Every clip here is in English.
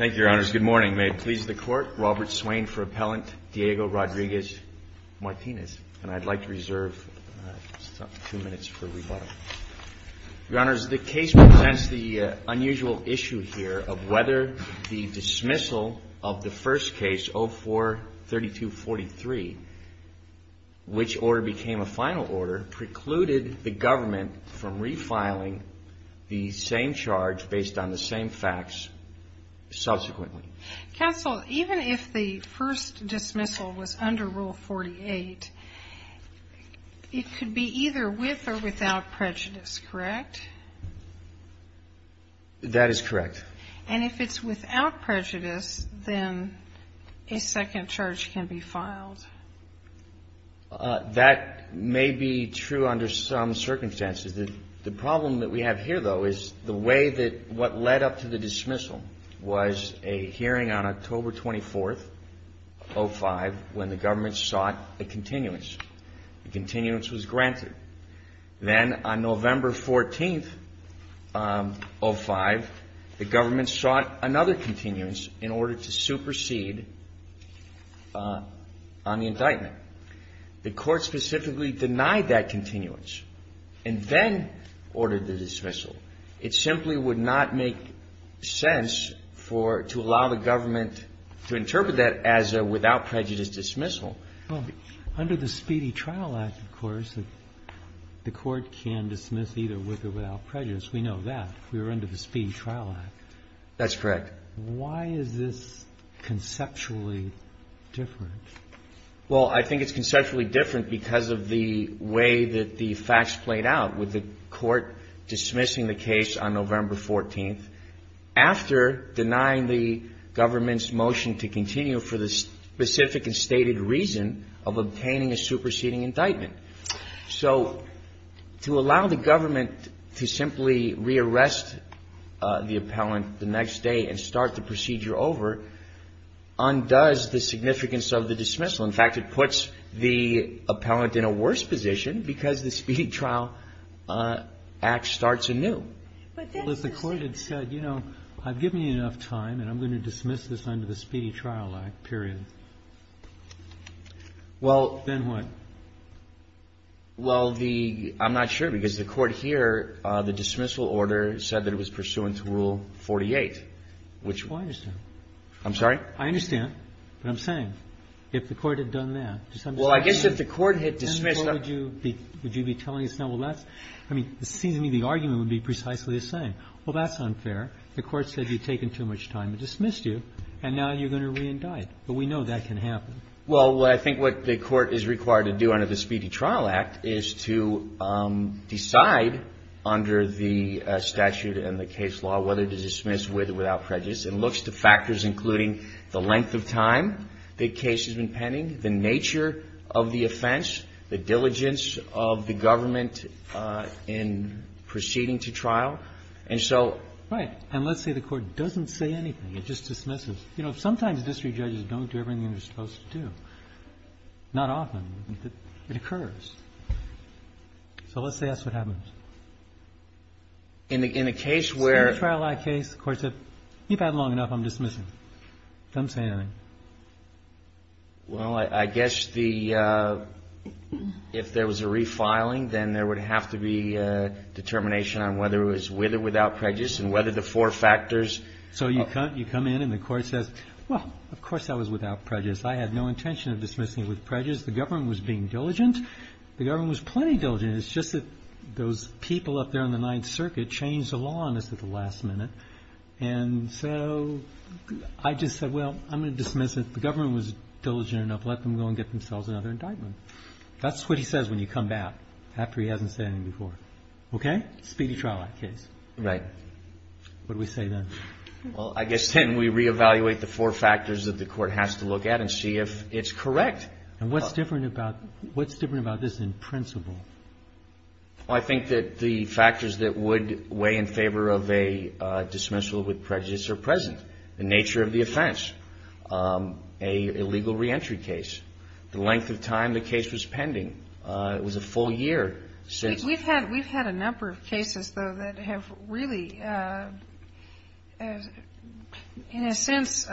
And I'd like to reserve two minutes for rebuttal. Your Honors, the case presents the unusual issue here of whether the dismissal of the first case, 04-3243, which order became a final order, precluded the government from refiling the same charge based on the same facts as the first case. Counsel, even if the first dismissal was under Rule 48, it could be either with or without prejudice, correct? That is correct. And if it's without prejudice, then a second charge can be filed. That may be true under some circumstances. The problem that we have here, though, is the way that what led up to the dismissal was a hearing on October 24th, 05, when the government sought a continuance. The continuance was granted. Then on November 14th, 05, the government sought another continuance in order to supersede on the indictment. The Court specifically denied that continuance and then ordered the dismissal. It simply would not make sense for to allow the government to interpret that as a without prejudice dismissal. Well, under the Speedy Trial Act, of course, the Court can dismiss either with or without prejudice. We know that. We were under the Speedy Trial Act. That's correct. Why is this conceptually different? Well, I think it's conceptually different because of the way that the facts played out with the Court dismissing the case on November 14th. And then after denying the government's motion to continue for the specific and stated reason of obtaining a superseding indictment. So to allow the government to simply re-arrest the appellant the next day and start the procedure over undoes the significance of the dismissal. In fact, it puts the appellant in a worse position because the Speedy Trial Act starts anew. Well, if the Court had said, you know, I've given you enough time and I'm going to dismiss this under the Speedy Trial Act, period. Well. Then what? Well, the – I'm not sure because the Court here, the dismissal order said that it was pursuant to Rule 48, which – Oh, I understand. I'm sorry? I understand what I'm saying. If the Court had done that – Well, I guess if the Court had dismissed – Would you be telling us now, well, that's – I mean, it seems to me the argument would be precisely the same. Well, that's unfair. The Court said you've taken too much time to dismiss you, and now you're going to re-indict. But we know that can happen. Well, I think what the Court is required to do under the Speedy Trial Act is to decide under the statute and the case law whether to dismiss with or without prejudice including the length of time the case has been pending, the nature of the offense, the diligence of the government in proceeding to trial. And so – Right. And let's say the Court doesn't say anything. It just dismisses. You know, sometimes district judges don't do everything they're supposed to do. Not often, but it occurs. So let's say that's what happens. In the case where – Keep at it long enough, I'm dismissing. Don't say anything. Well, I guess the – if there was a refiling, then there would have to be a determination on whether it was with or without prejudice and whether the four factors – So you come in and the Court says, well, of course that was without prejudice. I had no intention of dismissing it with prejudice. The government was being diligent. The government was plenty diligent. It's just that those people up there on the Ninth Circuit changed the law on us at the last minute and so I just said, well, I'm going to dismiss it. The government was diligent enough. Let them go and get themselves another indictment. That's what he says when you come back after he hasn't said anything before. Okay? Speedy trial act case. Right. What do we say then? Well, I guess then we reevaluate the four factors that the Court has to look at and see if it's correct. And what's different about – what's different about this in principle? Well, I think that the factors that would weigh in favor of a dismissal with prejudice are present. The nature of the offense, a legal reentry case, the length of time the case was pending. It was a full year. We've had a number of cases, though, that have really, in a sense,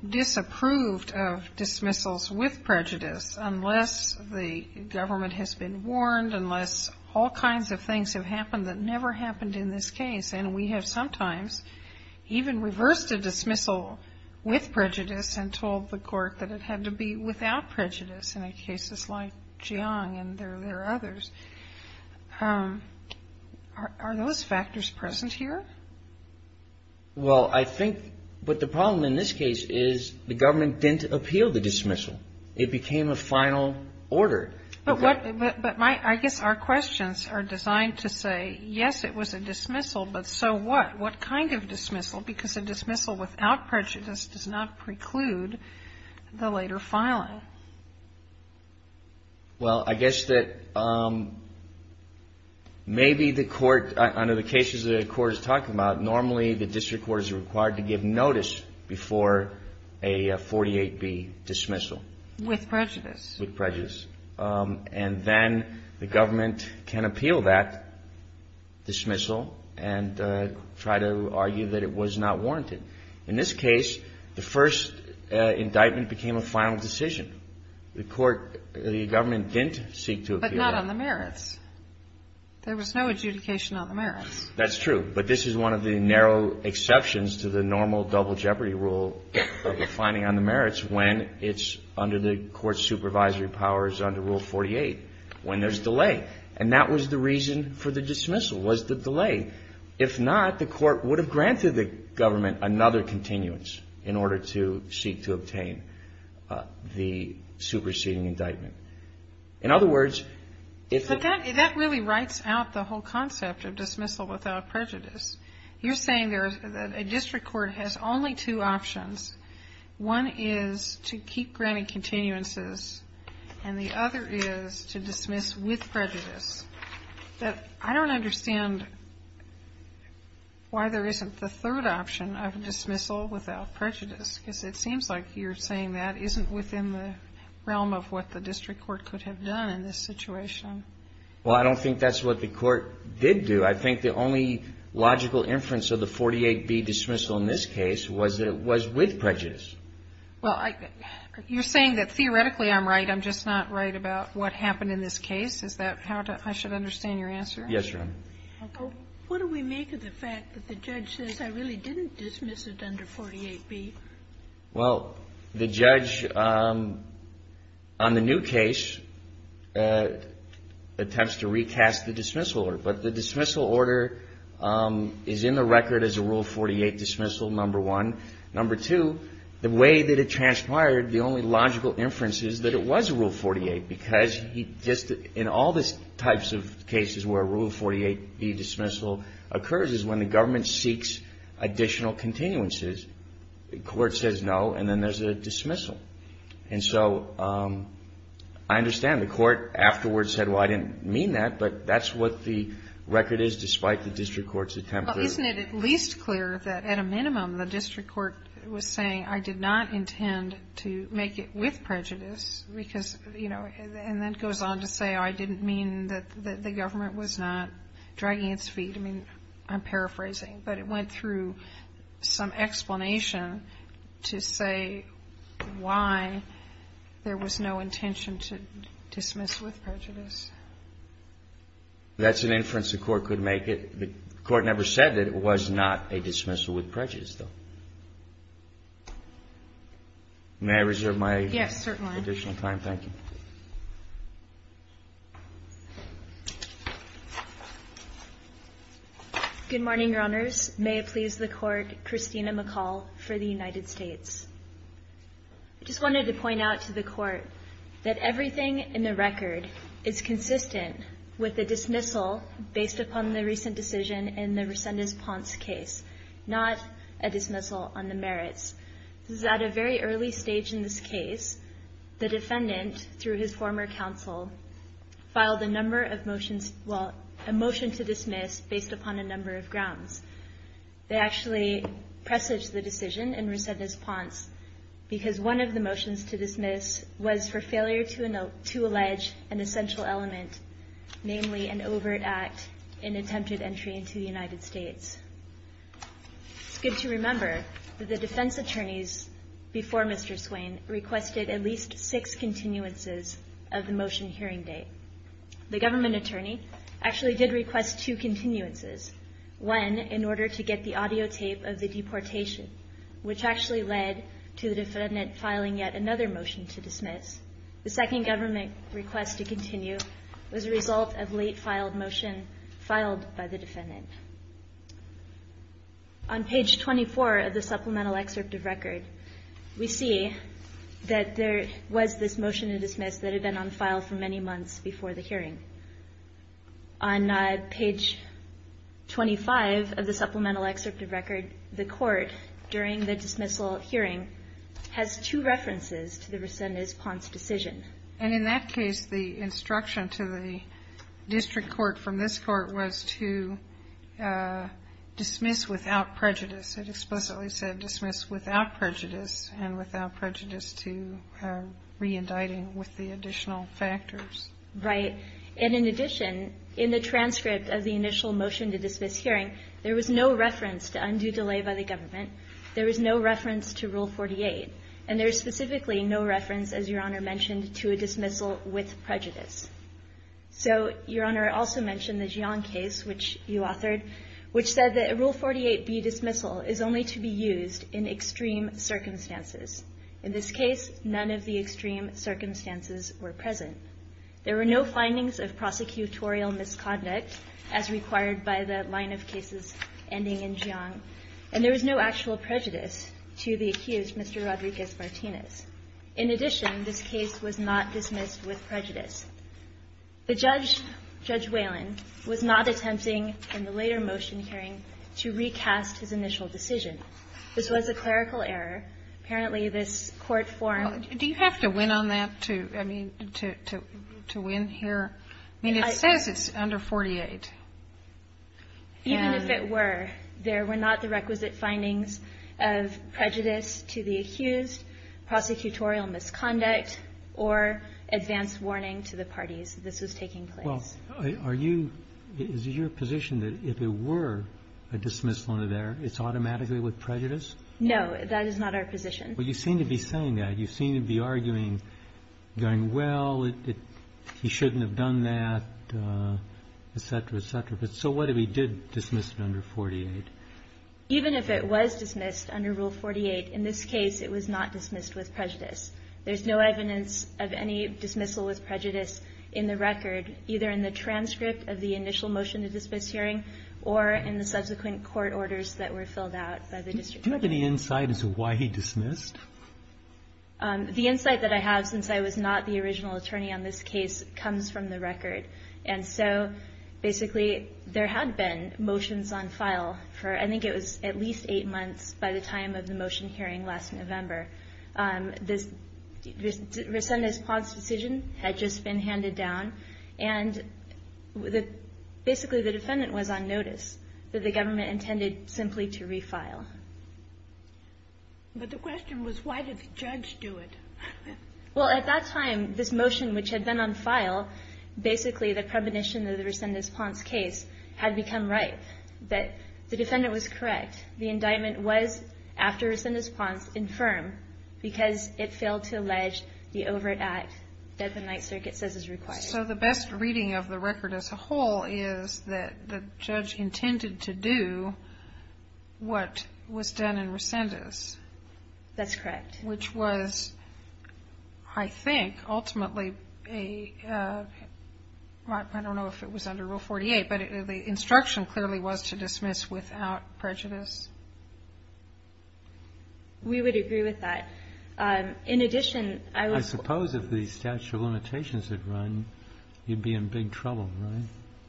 disapproved of dismissals with prejudice unless the government has been warned, unless all kinds of things have happened that never happened in this case. And we have sometimes even reversed a dismissal with prejudice and told the Court that it had to be without prejudice in cases like Jiang and there are others. Are those factors present here? Well, I think what the problem in this case is the government didn't appeal the dismissal. It became a final order. But I guess our questions are designed to say, yes, it was a dismissal, but so what? What kind of dismissal? Because a dismissal without prejudice does not preclude the later filing. Well, I guess that maybe the Court – under the cases the Court is talking about, normally the district court is required to give notice before a 48B dismissal. With prejudice. With prejudice. And then the government can appeal that dismissal and try to argue that it was not warranted. In this case, the first indictment became a final decision. The Court – the government didn't seek to appeal that. But not on the merits. There was no adjudication on the merits. That's true. But this is one of the narrow exceptions to the normal double jeopardy rule of defining on the merits when it's under the Court's supervisory powers under Rule 48, when there's delay. And that was the reason for the dismissal was the delay. If not, the Court would have granted the government another continuance in order to seek to obtain the superseding indictment. In other words, if the – You're saying that a district court has only two options. One is to keep granting continuances, and the other is to dismiss with prejudice. I don't understand why there isn't the third option of dismissal without prejudice, because it seems like you're saying that isn't within the realm of what the district court could have done in this situation. Well, I don't think that's what the Court did do. I think the only logical inference of the 48B dismissal in this case was that it was with prejudice. Well, you're saying that theoretically I'm right. I'm just not right about what happened in this case. Is that how I should understand your answer? Yes, Your Honor. What do we make of the fact that the judge says I really didn't dismiss it under 48B? Well, the judge on the new case attempts to recast the dismissal order. But the dismissal order is in the record as a Rule 48 dismissal, number one. Number two, the way that it transpired, the only logical inference is that it was Rule 48, because he just – in all the types of cases where a Rule 48B dismissal occurs is when the government seeks additional continuances. The court says no, and then there's a dismissal. And so I understand the court afterwards said, well, I didn't mean that, but that's what the record is despite the district court's attempt to do it. Well, isn't it at least clear that at a minimum the district court was saying I did not intend to make it with prejudice, because, you know, and then goes on to say I didn't mean that the government was not dragging its feet. I mean, I'm paraphrasing. But it went through some explanation to say why there was no intention to dismiss with prejudice. That's an inference the court could make. The court never said that it was not a dismissal with prejudice, though. May I reserve my additional time? Yes, certainly. Thank you. Good morning, Your Honors. May it please the Court, Christina McCall for the United States. I just wanted to point out to the Court that everything in the record is consistent with a dismissal based upon the recent decision in the Resendez-Ponce case, not a dismissal on the merits. This is at a very early stage in this case. The defendant, through his former counsel, filed a motion to dismiss based upon a number of grounds. They actually presaged the decision in Resendez-Ponce because one of the motions to dismiss was for failure to allege an essential element, namely an overt act in attempted entry into the United States. It's good to remember that the defense attorneys before Mr. Swain requested at least six continuances of the motion hearing date. The government attorney actually did request two continuances, one in order to get the audio tape of the deportation, which actually led to the defendant filing yet another motion to dismiss. The second government request to continue was a result of late-filed motion filed by the defendant. On page 24 of the supplemental excerpt of record, we see that there was this motion to dismiss that had been on file for many months before the hearing. On page 25 of the supplemental excerpt of record, the Court, during the dismissal hearing, has two references to the Resendez-Ponce decision. And in that case, the instruction to the district court from this court was to dismiss without prejudice. It explicitly said dismiss without prejudice and without prejudice to re-indicting with the additional factors. Right. And in addition, in the transcript of the initial motion to dismiss hearing, there was no reference to undue delay by the government. There was no reference to Rule 48. And there is specifically no reference, as Your Honor mentioned, to a dismissal with prejudice. So Your Honor also mentioned the Jiang case, which you authored, which said that Rule 48B, dismissal, is only to be used in extreme circumstances. In this case, none of the extreme circumstances were present. There were no findings of prosecutorial misconduct, as required by the line of cases ending in Jiang. And there was no actual prejudice to the accused, Mr. Rodriguez-Martinez. In addition, this case was not dismissed with prejudice. The judge, Judge Whalen, was not attempting, in the later motion hearing, to recast his initial decision. This was a clerical error. Apparently, this court form ---- Do you have to win on that to, I mean, to win here? I mean, it says it's under 48. Even if it were, there were not the requisite findings of prejudice to the accused, prosecutorial misconduct, or advance warning to the parties that this was taking place. Well, are you ---- is it your position that if it were a dismissal under there, it's automatically with prejudice? No, that is not our position. Well, you seem to be saying that. You seem to be arguing, going, well, he shouldn't have done that, et cetera, et cetera. But so what if he did dismiss it under 48? Even if it was dismissed under Rule 48, in this case, it was not dismissed with prejudice. There's no evidence of any dismissal with prejudice in the record, either in the transcript of the initial motion to dismiss hearing or in the subsequent court orders that were filled out by the district court. Do you have any insight as to why he dismissed? The insight that I have, since I was not the original attorney on this case, comes from the record. And so, basically, there had been motions on file for, I think it was at least eight months by the time of the motion hearing last November. Resendez-Pond's decision had just been handed down, and basically the defendant was on notice that the government intended simply to refile. But the question was, why did the judge do it? Well, at that time, this motion, which had been on file, basically the premonition of the Resendez-Pond's case had become ripe. But the defendant was correct. The indictment was, after Resendez-Pond's, infirm because it failed to allege the overt act that the Ninth Circuit says is required. So the best reading of the record as a whole is that the judge intended to do what was done in Resendez. That's correct. Which was, I think, ultimately a, I don't know if it was under Rule 48, but the instruction clearly was to dismiss without prejudice. We would agree with that. I suppose if the statute of limitations had run, you'd be in big trouble, right?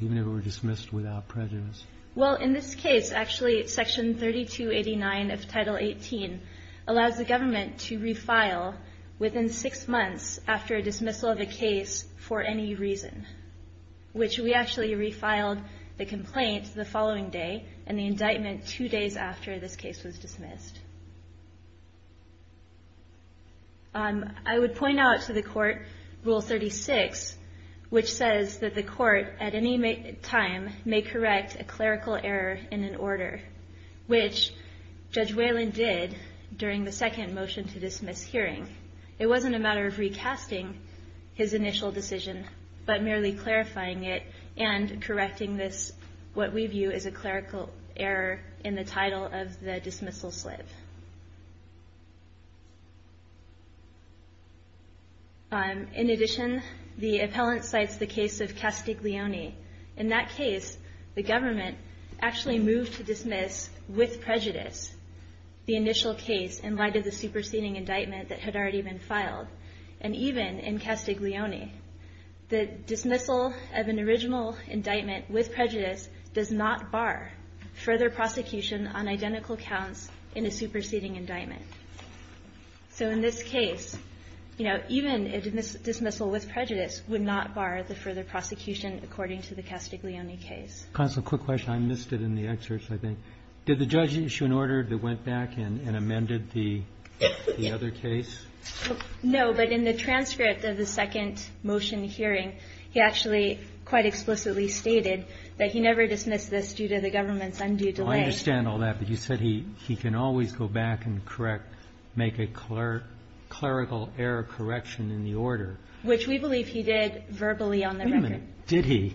Even if it were dismissed without prejudice. Well, in this case, actually, Section 3289 of Title 18 allows the government to refile within six months after dismissal of a case for any reason, which we actually refiled the complaint the following day I would point out to the court Rule 36, which says that the court at any time may correct a clerical error in an order, which Judge Whalen did during the second motion to dismiss hearing. It wasn't a matter of recasting his initial decision, but merely clarifying it and correcting this, what we view as a clerical error in the title of the dismissal slip. In addition, the appellant cites the case of Castiglione. In that case, the government actually moved to dismiss with prejudice the initial case in light of the superseding indictment that had already been filed. And even in Castiglione, the dismissal of an original indictment with prejudice does not bar further prosecution on identical counts in a superseding indictment. So in this case, you know, even a dismissal with prejudice would not bar the further prosecution according to the Castiglione case. Constable, quick question. I missed it in the excerpts, I think. Did the judge issue an order that went back and amended the other case? No. But in the transcript of the second motion hearing, he actually quite explicitly stated that he never dismissed this due to the government's undue delay. I understand all that. But you said he can always go back and correct, make a clerical error correction in the order. Which we believe he did verbally on the record. Wait a minute. Did he?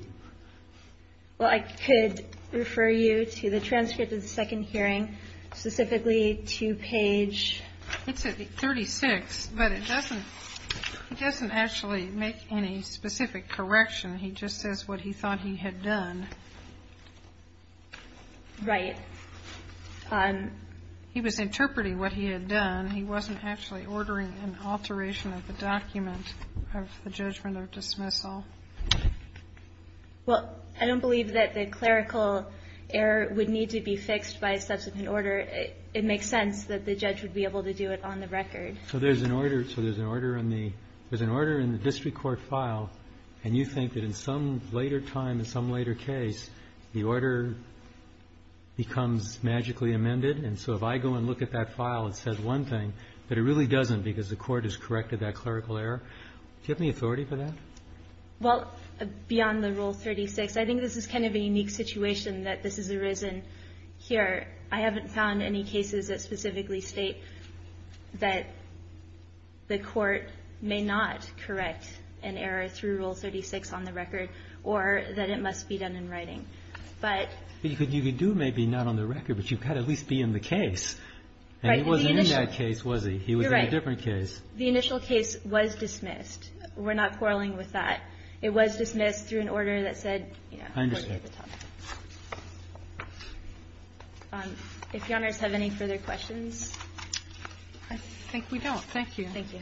Well, I could refer you to the transcript of the second hearing, specifically to page 36. But it doesn't actually make any specific correction. He just says what he thought he had done. Right. He was interpreting what he had done. He wasn't actually ordering an alteration of the document of the judgment of dismissal. Well, I don't believe that the clerical error would need to be fixed by subsequent order. It makes sense that the judge would be able to do it on the record. So there's an order in the district court file, and you think that in some later time, in some later case, the order becomes magically amended. And so if I go and look at that file, it says one thing, but it really doesn't because the court has corrected that clerical error. Do you have any authority for that? Well, beyond the Rule 36, I think this is kind of a unique situation that this has arisen here. I haven't found any cases that specifically state that the court may not correct an error through Rule 36 on the record or that it must be done in writing. But you could do maybe not on the record, but you've got to at least be in the case. And he wasn't in that case, was he? He was in a different case. You're right. The initial case was dismissed. We're not quarreling with that. I understand. If Your Honors have any further questions. I think we don't. Thank you. Thank you.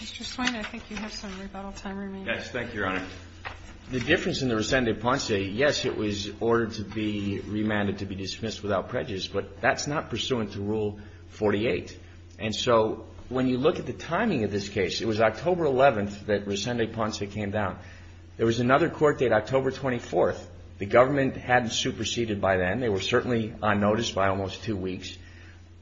Mr. Swain, I think you have some rebuttal time remaining. Yes. Thank you, Your Honor. The difference in the Rescindé-Ponce, yes, it was ordered to be remanded to be dismissed without prejudice, but that's not pursuant to Rule 48. And so when you look at the timing of this case, it was October 11th that Rescindé-Ponce came down. There was another court date, October 24th. The government hadn't superseded by then. They were certainly on notice by almost two weeks.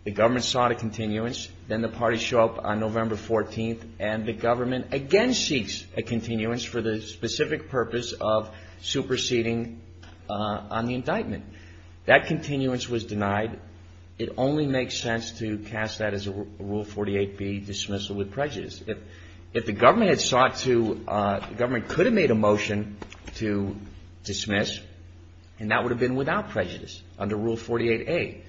The government sought a continuance. Then the parties show up on November 14th, and the government again seeks a continuance for the specific purpose of superseding on the indictment. That continuance was denied. It only makes sense to cast that as a Rule 48B, dismissal with prejudice. If the government had sought to – the government could have made a motion to dismiss, and that would have been without prejudice under Rule 48A.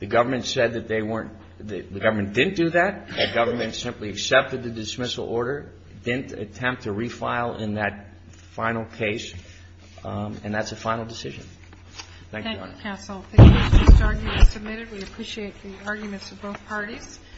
The government said that they weren't – the government didn't do that. The government simply accepted the dismissal order, didn't attempt to refile in that final case, and that's a final decision. Thank you, Your Honor. Thank you, counsel. Thank you for this argument submitted. We appreciate the arguments of both parties.